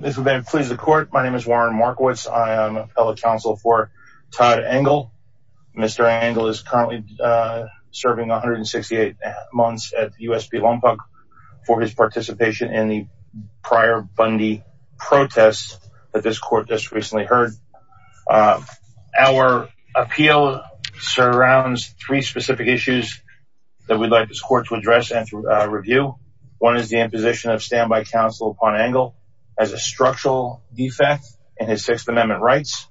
This event pleases the court. My name is Warren Markowitz. I am a fellow counsel for Todd Engel. Mr. Engel is currently serving 168 months at USP Lompoc for his participation in the prior Bundy protests that this court just recently heard. Our appeal surrounds three specific issues that we'd like this court to address and review. One is the imposition of standby counsel for Todd Engel as a structural defect in his Sixth Amendment rights.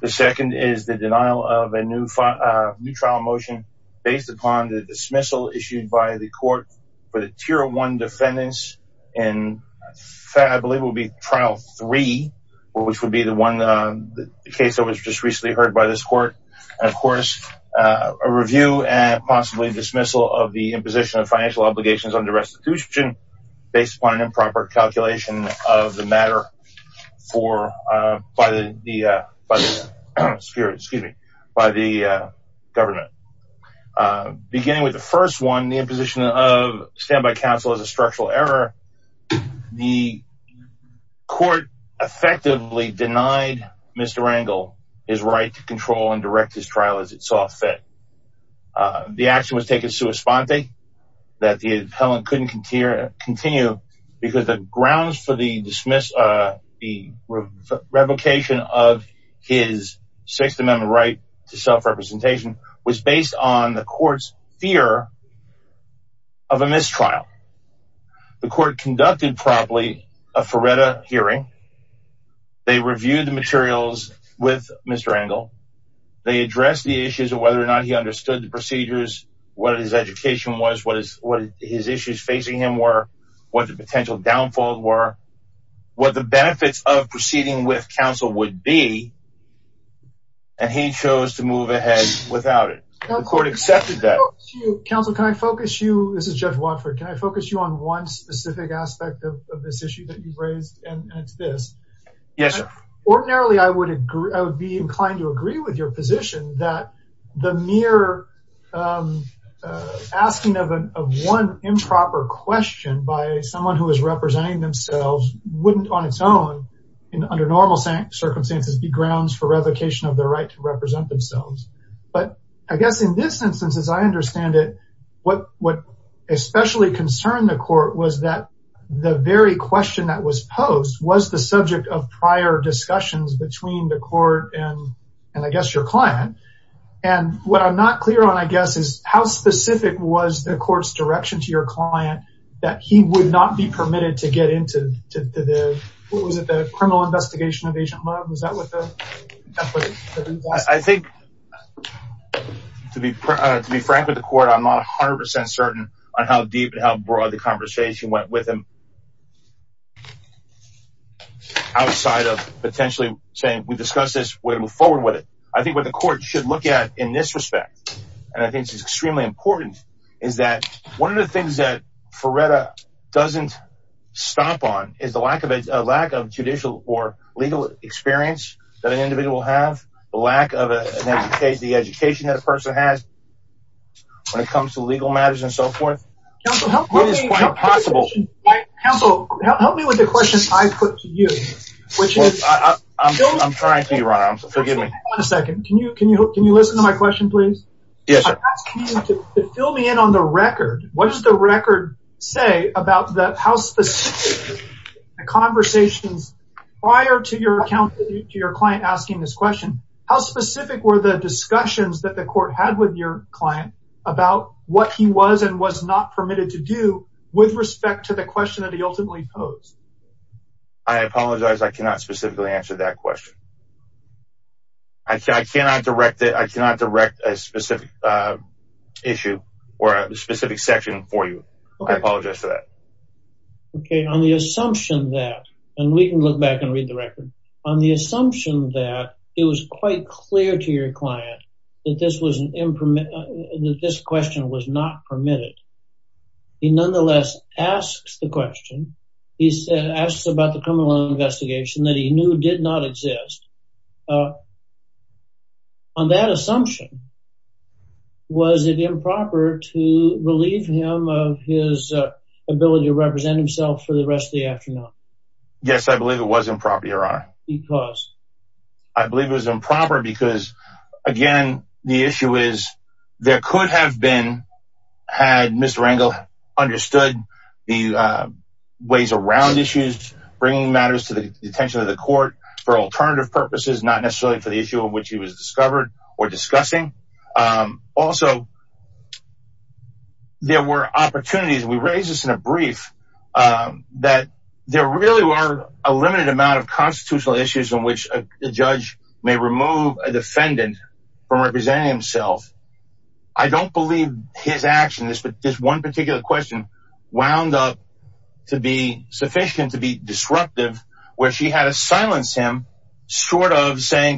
The second is the denial of a new trial motion based upon the dismissal issued by the court for the tier one defendants in what I believe will be trial three, which would be the one case that was just recently heard by this court. And of course, a review and possibly dismissal of the imposition of financial obligations under restitution based upon an improper calculation of the matter for, by the, excuse me, by the government. Beginning with the first one, the imposition of standby counsel as a structural error, the court effectively denied Mr. Engel his right to control and direct his trial as it saw fit. The action was taken sui sponte, that the appellant couldn't continue because the grounds for the dismiss, the revocation of his Sixth Amendment right to self-representation was based on the court's fear of a mistrial. The court conducted promptly a Feretta hearing. They reviewed the materials with Mr. Engel. They addressed the issues of whether or not he understood the procedures, what his education was, what his issues facing him were, what the potential downfall were, what the benefits of proceeding with counsel would be. And he chose to move ahead without it. The court accepted that. Counsel, can I focus you, this is Judge Watford, can I focus you on one specific aspect of this issue that you've raised? And it's this. Yes, sir. Ordinarily, I would agree, I would be inclined to agree with your position that the mere asking of one improper question by someone who is representing themselves wouldn't on its own, under normal circumstances, be grounds for revocation of their right to represent themselves. But I guess in this instance, as I understand it, what especially concerned the court was that the very question that was posed was the subject of prior discussions between the court and, I guess, your client. And what I'm not clear on, I guess, is how specific was the court's direction to your client that he would not be permitted to get into the, what was it, the criminal investigation of Agent Love? Was that what the, that's what the ruling was? I think, to be frank with the court, I'm not 100% certain on how deep and how broad the conversation went with him outside of potentially saying, we discussed this, we're gonna move forward with it. I think what the court should look at in this respect, and I think this is extremely important, is that one of the things that Ferreira doesn't stomp on is the lack of judicial or legal experience that an individual will have, the lack of the education that a person has when it comes to legal matters and so forth. Counsel, help me- It is quite possible. Counsel, help me with the questions I put to you, which is- I'm trying to, your honor, forgive me. Hold on a second. Can you listen to my question, please? Yes, sir. I'm asking you to fill me in on the record. What does the record say about how specific the conversations prior to your client asking this question, how specific were the discussions that the court had with your client about what he was and was not permitted to do with respect to the question that he ultimately posed? I apologize, I cannot specifically answer that question. I cannot direct a specific issue or a specific section for you. I apologize for that. Okay, on the assumption that, and we can look back and read the record, on the assumption that it was quite clear to your client that this question was not permitted, he nonetheless asks the question. He asks about the criminal investigation that he knew did not exist. On that assumption, was it improper to relieve him of his ability to represent himself for the rest of the afternoon? Yes, I believe it was improper, your honor. Because? I believe it was improper because, again, the issue is there could have been, had Mr. Rangel understood the ways around issues, bringing matters to the attention of the court for alternative purposes, not necessarily for the issue in which he was discovered or discussing. Also, there were opportunities, and we raised this in a brief, that there really were a limited amount of constitutional issues in which a judge may remove a defendant from representing himself. I don't believe his action, this one particular question, wound up to be sufficient to be disruptive, where she had to silence him, short of saying,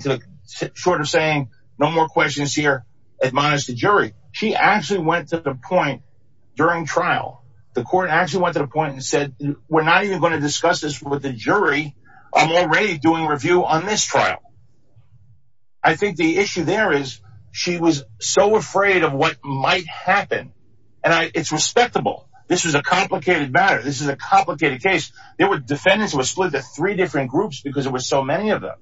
no more questions here, admonish the jury. She actually went to the point during trial, the court actually went to the point and said, we're not even gonna discuss this with the jury, I'm already doing review on this trial. I think the issue there is, she was so afraid of what might happen. And it's respectable. This was a complicated matter. This is a complicated case. There were defendants who were split to three different groups because it was so many of them.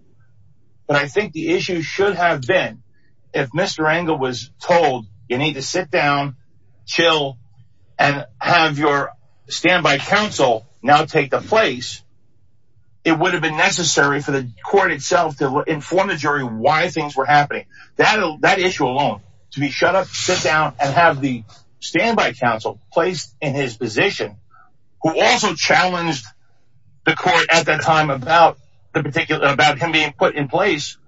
But I think the issue should have been, if Mr. Rangel was told, you need to sit down, chill, and have your standby counsel now take the place, it would have been necessary for the court itself to inform the jury why things were happening. That issue alone, to be shut up, sit down, and have the standby counsel placed in his position, who also challenged the court at that time about him being put in place.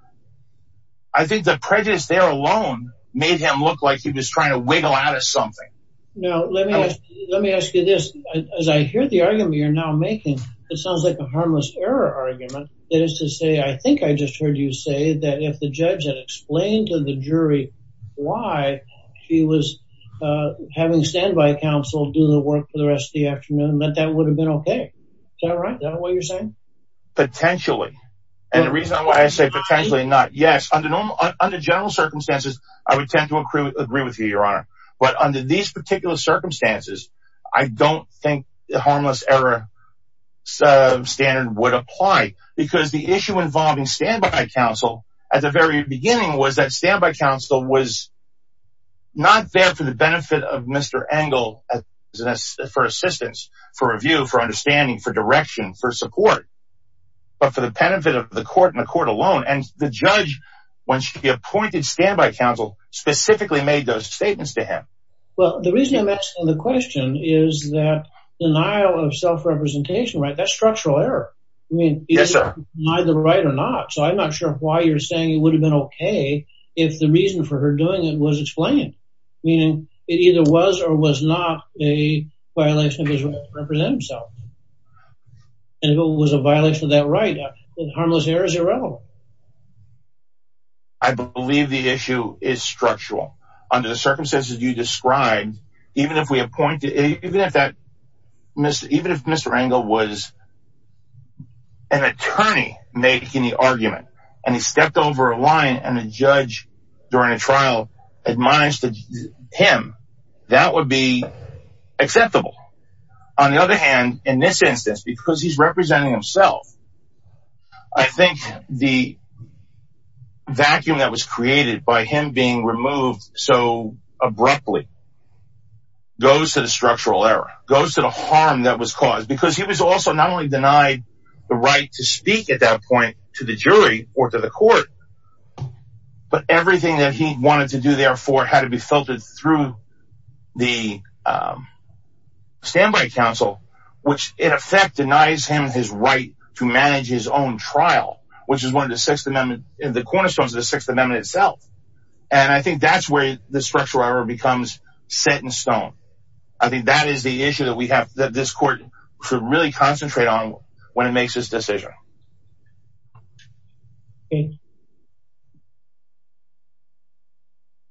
I think the prejudice there alone made him look like he was trying to wiggle out of something. Now, let me ask you this. As I hear the argument you're now making, it sounds like a harmless error argument. That is to say, I think I just heard you say that if the judge had explained to the jury why he was having standby counsel do the work for the rest of the afternoon, that that would have been okay. Is that right? Is that what you're saying? Potentially. And the reason why I say potentially not, yes, under general circumstances, I would tend to agree with you, your honor. But under these particular circumstances, I don't think the harmless error standard would apply because the issue involving standby counsel at the very beginning was that standby counsel was not there for the benefit of Mr. Engel for assistance, for review, for understanding, for direction, for support, but for the benefit of the court and the court alone. And the judge, once she appointed standby counsel, specifically made those statements to him. Well, the reason I'm asking the question is that denial of self-representation, right? That's structural error. I mean, is it neither right or not? So I'm not sure why you're saying it would have been okay if the reason for her doing it was explained, meaning it either was or was not a violation of his right to represent himself. And if it was a violation of that right, then harmless error is irrelevant. I believe the issue is structural under the circumstances you described, even if we appointed, even if that, even if Mr. Engel was an attorney making the argument and he stepped over a line and a judge during a trial admonished him, that would be acceptable. On the other hand, in this instance, because he's representing himself, I think the vacuum that was created by him being removed so abruptly goes to the structural error, goes to the harm that was caused because he was also not only denied the right to speak at that point to the jury or to the court, but everything that he wanted to do therefore had to be filtered through the standby counsel, which in effect denies him his right to manage his own trial, which is one of the Sixth Amendment, the cornerstones of the Sixth Amendment itself. And I think that's where the structural error becomes set in stone. I think that is the issue that we have, that this court should really concentrate on when it makes this decision.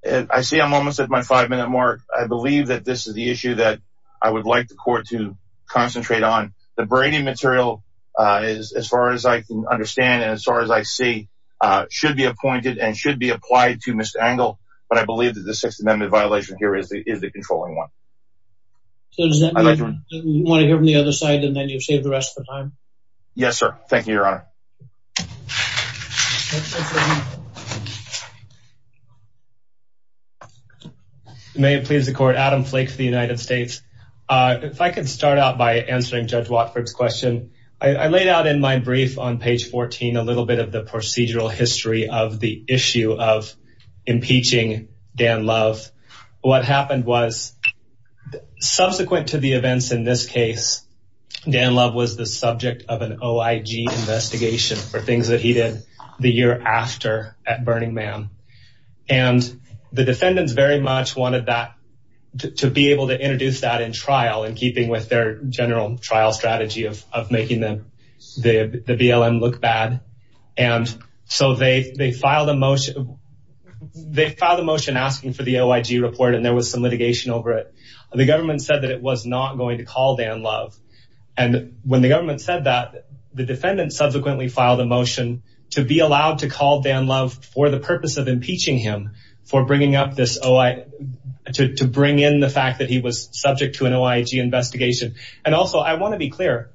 I see I'm almost at my five minute mark. I believe that this is the issue that I would like the court to concentrate on. The Brady material, as far as I can understand, and as far as I see, should be appointed and should be applied to Mr. Engel, but I believe that the Sixth Amendment violation here is the controlling one. So does that mean you want to hear from the other side and then you've saved the rest of the time? Yes, sir. Thank you, Your Honor. May it please the court, Adam Flake for the United States. If I could start out by answering Judge Watford's question. I laid out in my brief on page 14, a little bit of the procedural history of the issue of impeaching Dan Love. What happened was, subsequent to the events in this case, Dan Love was the subject of an OIG investigation for things that he did the year after at Burning Man. And the defendants very much wanted that, to be able to introduce that in trial in keeping with their general trial strategy of making the BLM look bad. And so they filed a motion, they filed a motion asking for the OIG report and there was some litigation over it. The government said that it was not going to call Dan Love. And when the government said that, the defendants subsequently filed a motion to be allowed to call Dan Love for the purpose of impeaching him, for bringing up this OI, to bring in the fact that he was subject to an OIG investigation. And also I wanna be clear,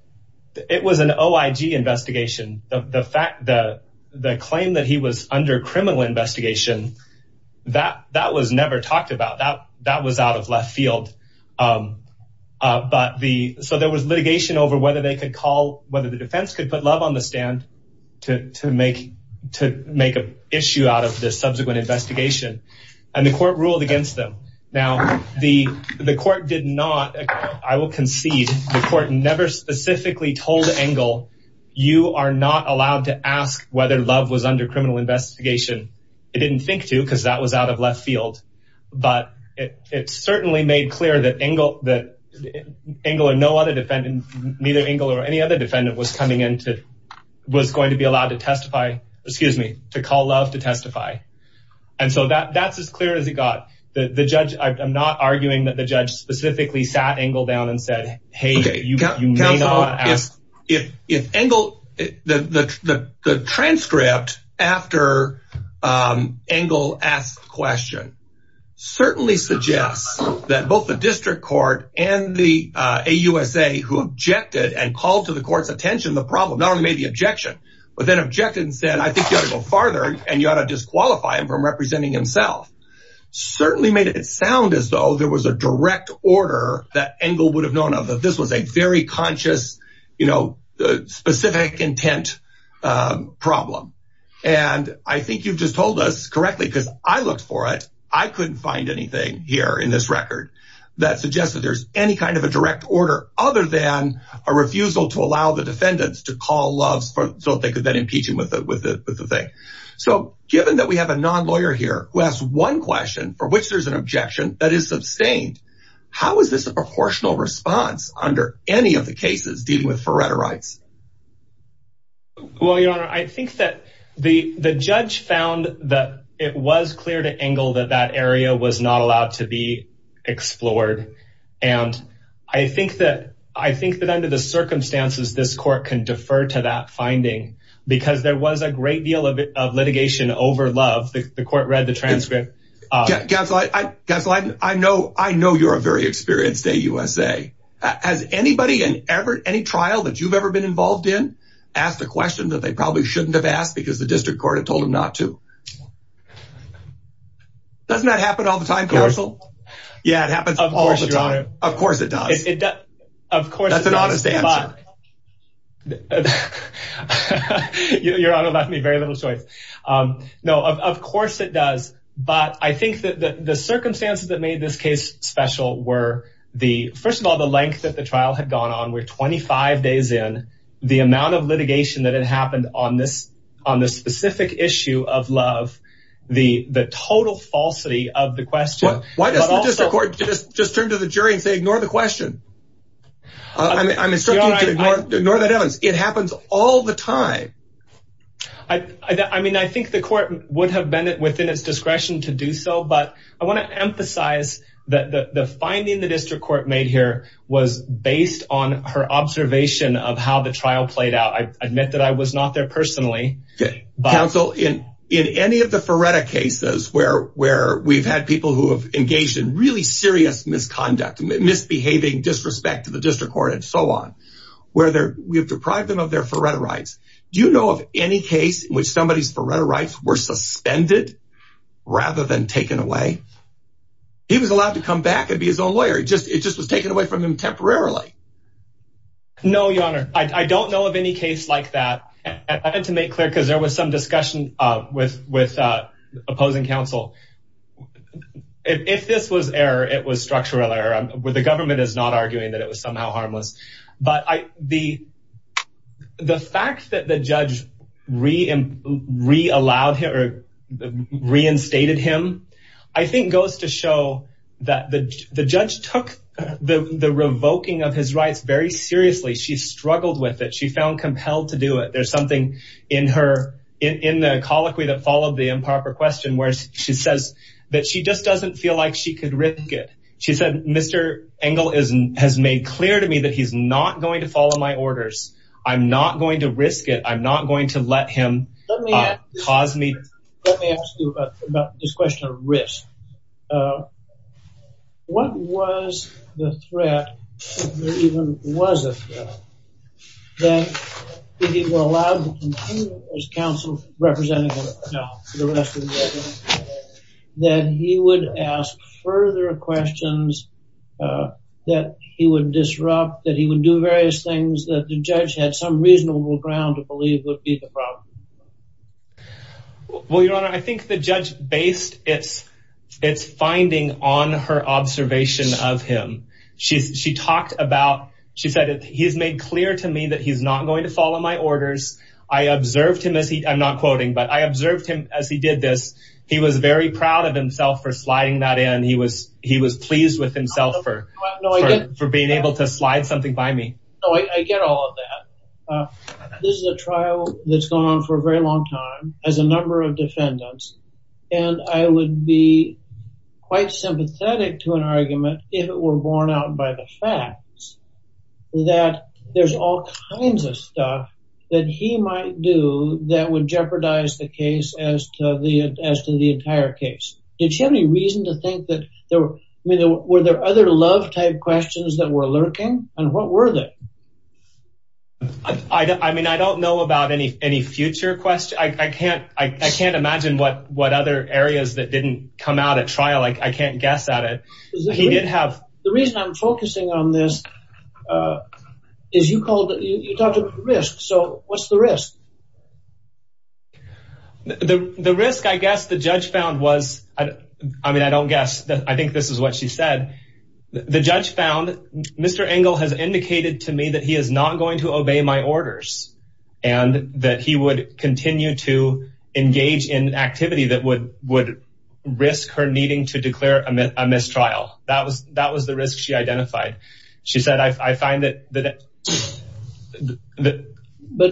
it was an OIG investigation. The fact that, the claim that he was under criminal investigation, that was never talked about, that was out of left field. But the, so there was litigation over whether they could call, whether the defense could put Love on the stand to make a issue out of this subsequent investigation. And the court ruled against them. Now, the court did not, I will concede, the court never specifically told Engle, you are not allowed to ask whether Love was under criminal investigation. It didn't think to, because that was out of left field. But it certainly made clear that Engle, that Engle or no other defendant, neither Engle or any other defendant was coming into, was going to be allowed to testify, excuse me, to call Love to testify. And so that's as clear as it got. The judge, I'm not arguing that the judge specifically sat Engle down and said, hey, you may not ask. If Engle, the transcript after Engle asked the question, certainly suggests that both the district court and the AUSA who objected and called to the court's attention the problem, not only made the objection, but then objected and said, I think you ought to go farther and you ought to disqualify him from representing himself. Certainly made it sound as though there was a direct order that Engle would have known of, that this was a very conscious, you know, specific intent problem. And I think you've just told us correctly, because I looked for it. I couldn't find anything here in this record that suggests that there's any kind of a direct order other than a refusal to allow the defendants to call Love's, so that they could then impeach him with the thing. So given that we have a non-lawyer here who has one question for which there's an objection that is sustained, how is this a proportional response under any of the cases dealing with Faretta rights? Well, your honor, I think that the judge found that it was clear to Engle that that area was not allowed to be explored. And I think that under the circumstances, this court can defer to that finding, because there was a great deal of litigation over Love. The court read the transcript. Counsel, I know you're a very experienced AUSA. Has anybody in any trial that you've ever been involved in asked a question that they probably shouldn't have asked because the district court had told them not to? Doesn't that happen all the time, counsel? Yeah, it happens all the time. Of course it does. Of course it does. That's an honest answer. Your honor left me very little choice. No, of course it does. But I think that the circumstances that made this case special were the, first of all, the length that the trial had gone on were 25 days in, the amount of litigation that had happened on this specific issue of Love, the total falsity of the question. Why doesn't the district court just turn to the jury and say, ignore the question? I'm instructing you to ignore that evidence. It happens all the time. I mean, I think the court would have been within its discretion to do so, but I want to emphasize that the finding the district court made here was based on her observation of how the trial played out. I admit that I was not there personally. Counsel, in any of the Ferretta cases where we've had people who have engaged in really serious misconduct, misbehaving, disrespect to the district court and so on, where we have deprived them of their Ferretta rights. Do you know of any case in which somebody's Ferretta rights were suspended rather than taken away? He was allowed to come back and be his own lawyer. It just was taken away from him temporarily. No, your honor. I don't know of any case like that. I had to make clear because there was some discussion with opposing counsel. If this was error, it was structural error. The government is not arguing that it was somehow harmless. But the fact that the judge reinstated him, I think goes to show that the judge took the revoking of his rights very seriously. She struggled with it. She found compelled to do it. There's something in the colloquy that followed the improper question where she says that she just doesn't feel like she could risk it. She said, Mr. Engel has made clear to me that he's not going to follow my orders. I'm not going to risk it. I'm not going to let him cause me- Let me ask you about this question of risk. What was the threat, if there even was a threat, that if he were allowed to continue as counsel representing the rest of the government, that he would ask further questions, that he would disrupt, that he would do various things that the judge had some reasonable ground to believe would be the problem? Well, your honor, I think the judge based its finding on her observation of him. She talked about, she said, he's made clear to me that he's not going to follow my orders. I observed him as he, I'm not quoting, but I observed him as he did this. He was very proud of himself for sliding that in. He was pleased with himself for being able to slide something by me. Oh, I get all of that. This is a trial that's gone on for a very long time as a number of defendants. And I would be quite sympathetic to an argument if it were borne out by the facts that there's all kinds of stuff that he might do that would jeopardize the case as to the entire case. Did she have any reason to think that there were, were there other love type questions that were lurking? And what were they? I mean, I don't know about any future questions. I can't imagine what other areas that didn't come out at trial. I can't guess at it. He did have- The reason I'm focusing on this is you called, you talked about risk. So what's the risk? The risk, I guess the judge found was, I mean, I don't guess, I think this is what she said. The judge found, Mr. Engel has indicated to me that he is not going to obey my orders and that he would continue to engage in activity that would risk her needing to declare a mistrial. That was the risk she identified. She said, I find that,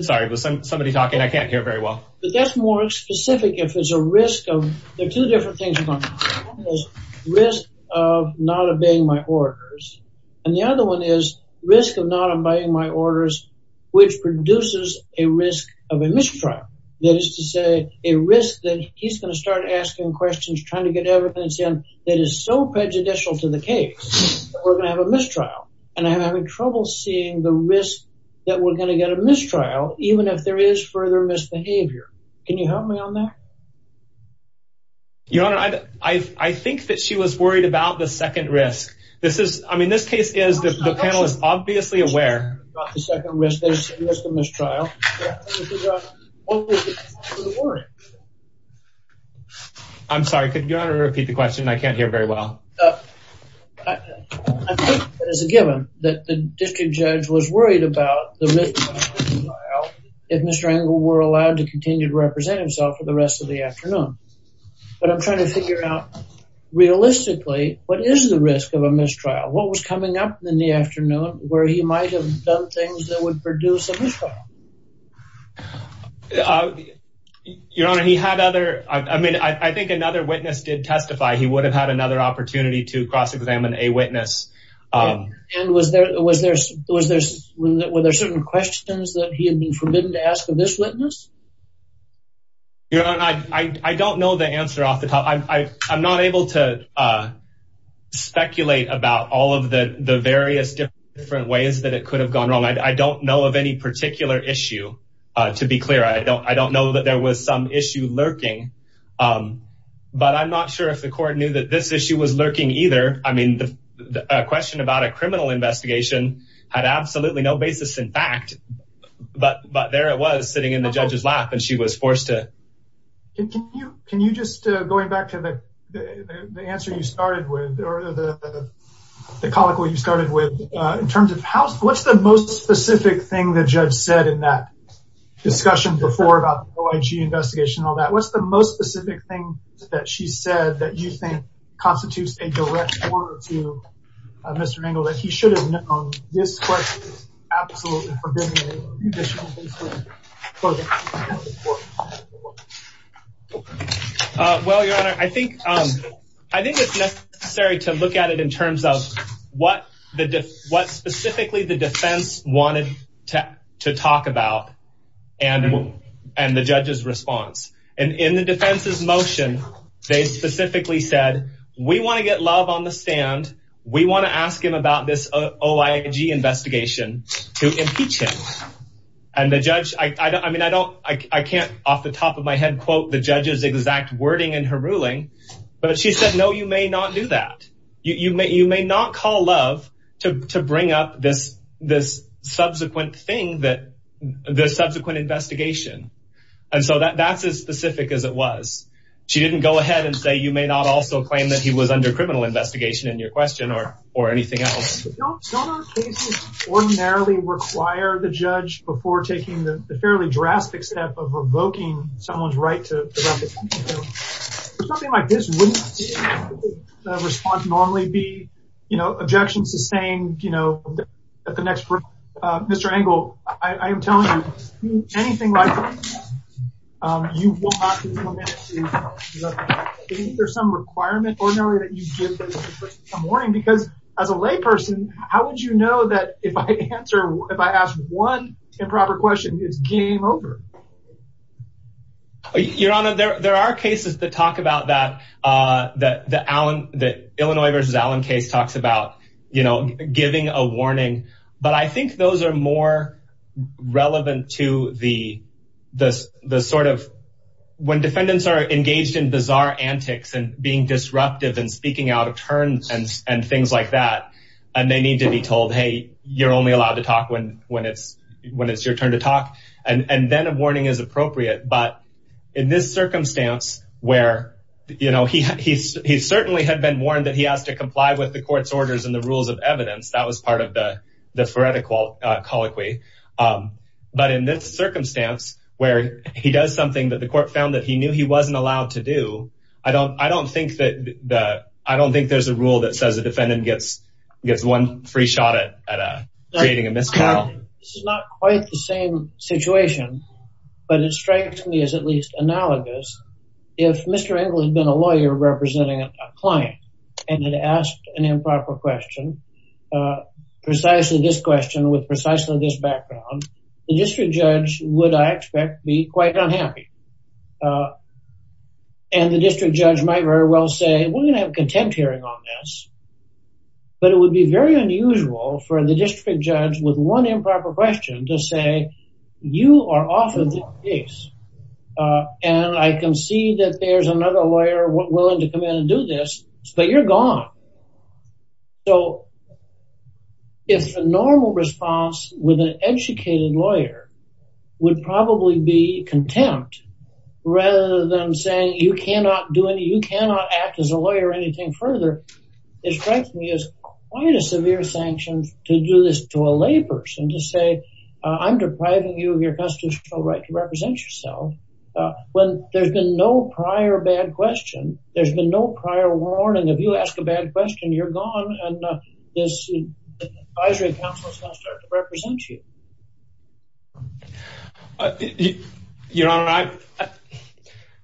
sorry, was somebody talking? I can't hear very well. But that's more specific if it's a risk of, there are two different things going on. Risk of not obeying my orders. And the other one is risk of not obeying my orders, which produces a risk of a mistrial. That is to say a risk that he's going to start asking questions, trying to get evidence in that is so prejudicial to the case that we're going to have a mistrial. And I'm having trouble seeing the risk that we're going to get a mistrial, even if there is further misbehavior. Can you help me on that? Your Honor, I think that she was worried about the second risk. This is, I mean, this case is, the panel is obviously aware. I'm sorry, could Your Honor repeat the question? I can't hear very well. I think that as a given, that the district judge was worried about the risk of a mistrial if Mr. Engel were allowed to continue to represent himself for the rest of the afternoon. But I'm trying to figure out realistically, what is the risk of a mistrial? What was coming up in the afternoon where he might have done things that would produce a mistrial? Your Honor, he had other, I mean, I think another witness did testify he would have had another opportunity to cross-examine a witness. And was there, were there certain questions that he had been forbidden to ask of this witness? Your Honor, I don't know the answer off the top. I'm not able to speculate about all of the various different ways that it could have gone wrong. I don't know of any particular issue, to be clear. I don't know that there was some issue lurking, but I'm not sure if the court knew that this issue was lurking either. I mean, the question about a criminal investigation had absolutely no basis in fact, but there it was sitting in the judge's lap and she was forced to. Can you just, going back to the answer you started with, or the colloquy you started with, in terms of what's the most specific thing the judge said in that discussion before about the OIG investigation and all that? What's the most specific thing that she said that you think constitutes a direct order to Mr. Engel that he should have known this question was absolutely forbidden in any judicial case? Well, Your Honor, I think it's necessary to look at it in terms of what specifically the defense wanted to talk about and the judge's response. And in the defense's motion, they specifically said, we wanna get Love on the stand. We wanna ask him about this OIG investigation to impeach him. And the judge, I mean, I can't off the top of my head quote the judge's exact wording in her ruling, but she said, no, you may not do that. You may not call Love to bring up this subsequent thing that the subsequent investigation. And so that's as specific as it was. She didn't go ahead and say, you may not also claim that he was under criminal investigation in your question or anything else. Don't our cases ordinarily require the judge before taking the fairly drastic step of revoking someone's right to represent the country? For something like this, wouldn't the response normally be, you know, objections to saying, you know, at the next, Mr. Engel, I am telling you, anything like this, you will not be permitted to, is that, is there some requirement ordinarily that you give this person some warning? Because as a lay person, how would you know that if I answer, if I ask one improper question, it's game over? Your Honor, there are cases that talk about that, that the Allen, the Illinois versus Allen case talks about, you know, giving a warning. But I think those are more relevant to the sort of, when defendants are engaged in bizarre antics and being disruptive and speaking out of turn and things like that, and they need to be told, hey, you're only allowed to talk when it's your turn to talk, and then a warning is appropriate. But in this circumstance where, you know, he certainly had been warned that he has to comply with the court's orders and the rules of evidence, that was part of the Faretta colloquy. But in this circumstance where he does something that the court found that he knew he wasn't allowed to do, I don't think that, I don't think there's a rule that says a defendant gets one free shot at creating a misconduct. This is not quite the same situation, but it strikes me as at least analogous if Mr. Engle had been a lawyer representing a client and had asked an improper question, precisely this question with precisely this background, the district judge would, I expect, be quite unhappy. And the district judge might very well say, we're gonna have a contempt hearing on this, but it would be very unusual for the district judge with one improper question to say, you are off of this case, and I can see that there's another lawyer willing to come in and do this, but you're gone. So if a normal response with an educated lawyer would probably be contempt, rather than saying you cannot do any, you cannot act as a lawyer or anything further, it strikes me as quite a severe sanction to do this to a layperson to say, I'm depriving you of your constitutional right to represent yourself when there's been no prior bad question, there's been no prior warning. If you ask a bad question, you're gone, and this advisory council is not starting to represent you. Your Honor,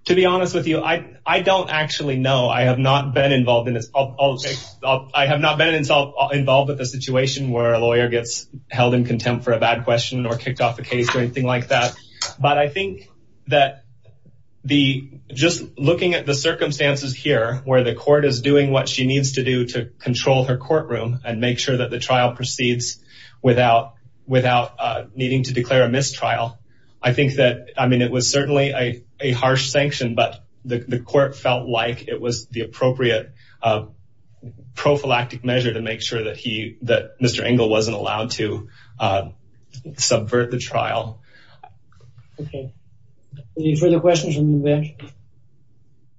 to be honest with you, I don't actually know, I have not been involved in this, I have not been involved with a situation where a lawyer gets held in contempt for a bad question or kicked off a case or anything like that, but I think that the, just looking at the circumstances here where the court is doing what she needs to do to control her courtroom and make sure that the trial proceeds without needing to declare a mistrial, I think that, I mean, it was certainly a harsh sanction, but the court felt like it was the appropriate prophylactic measure to make sure that he, that Mr. Engel wasn't allowed to subvert the trial. Okay. Any further questions from the bench?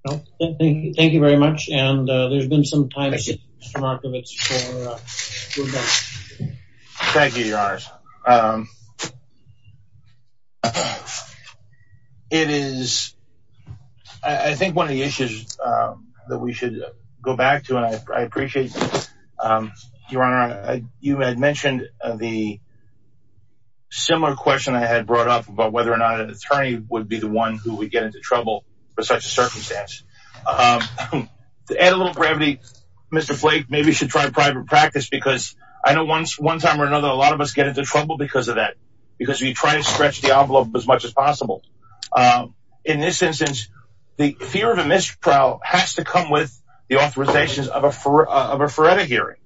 No? Thank you very much, and there's been some time- Thank you. Mr. Markovits for your time. Thank you, Your Honor. It is, I think one of the issues that we should go back to, and I appreciate, Your Honor, you had mentioned the similar question I had brought up about whether or not an attorney would be the one who would get into trouble for such a circumstance. To add a little gravity, Mr. Flake, maybe you should try private practice because I know one time or another, a lot of us get into trouble because of that, because we try and stretch the envelope as much as possible. In this instance, the fear of a mistrial has to come with the authorizations of a forever hearing.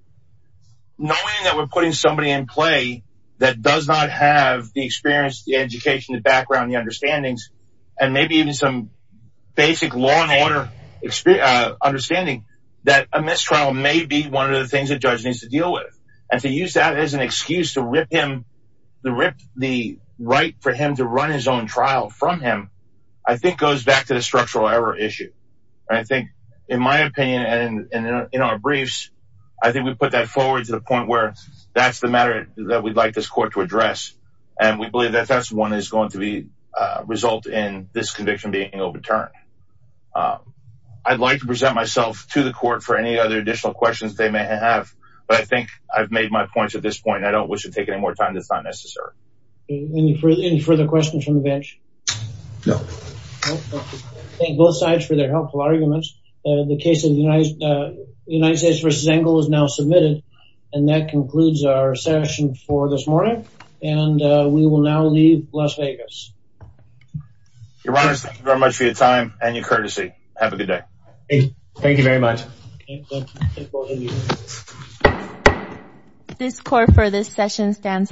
Knowing that we're putting somebody in play that does not have the experience, the education, the background, the understandings, and maybe even some basic law and order understanding that a mistrial may be one of the things a judge needs to deal with. And to use that as an excuse to rip him, to rip the right for him to run his own trial from him, I think goes back to the structural error issue. I think, in my opinion, and in our briefs, I think we put that forward to the point where that's the matter that we'd like this court to address and we believe that that's the one that's going to be, result in this conviction being overturned. I'd like to present myself to the court for any other additional questions they may have, but I think I've made my points at this point. I don't wish to take any more time. That's not necessary. Any further questions from the bench? No. Thank both sides for their helpful arguments. The case of the United States v. Engel is now submitted and that concludes our session for this morning. And we will now leave Las Vegas. Your Honors, thank you very much for your time and your courtesy. Have a good day. Thank you very much. This court for this session stands adjourned.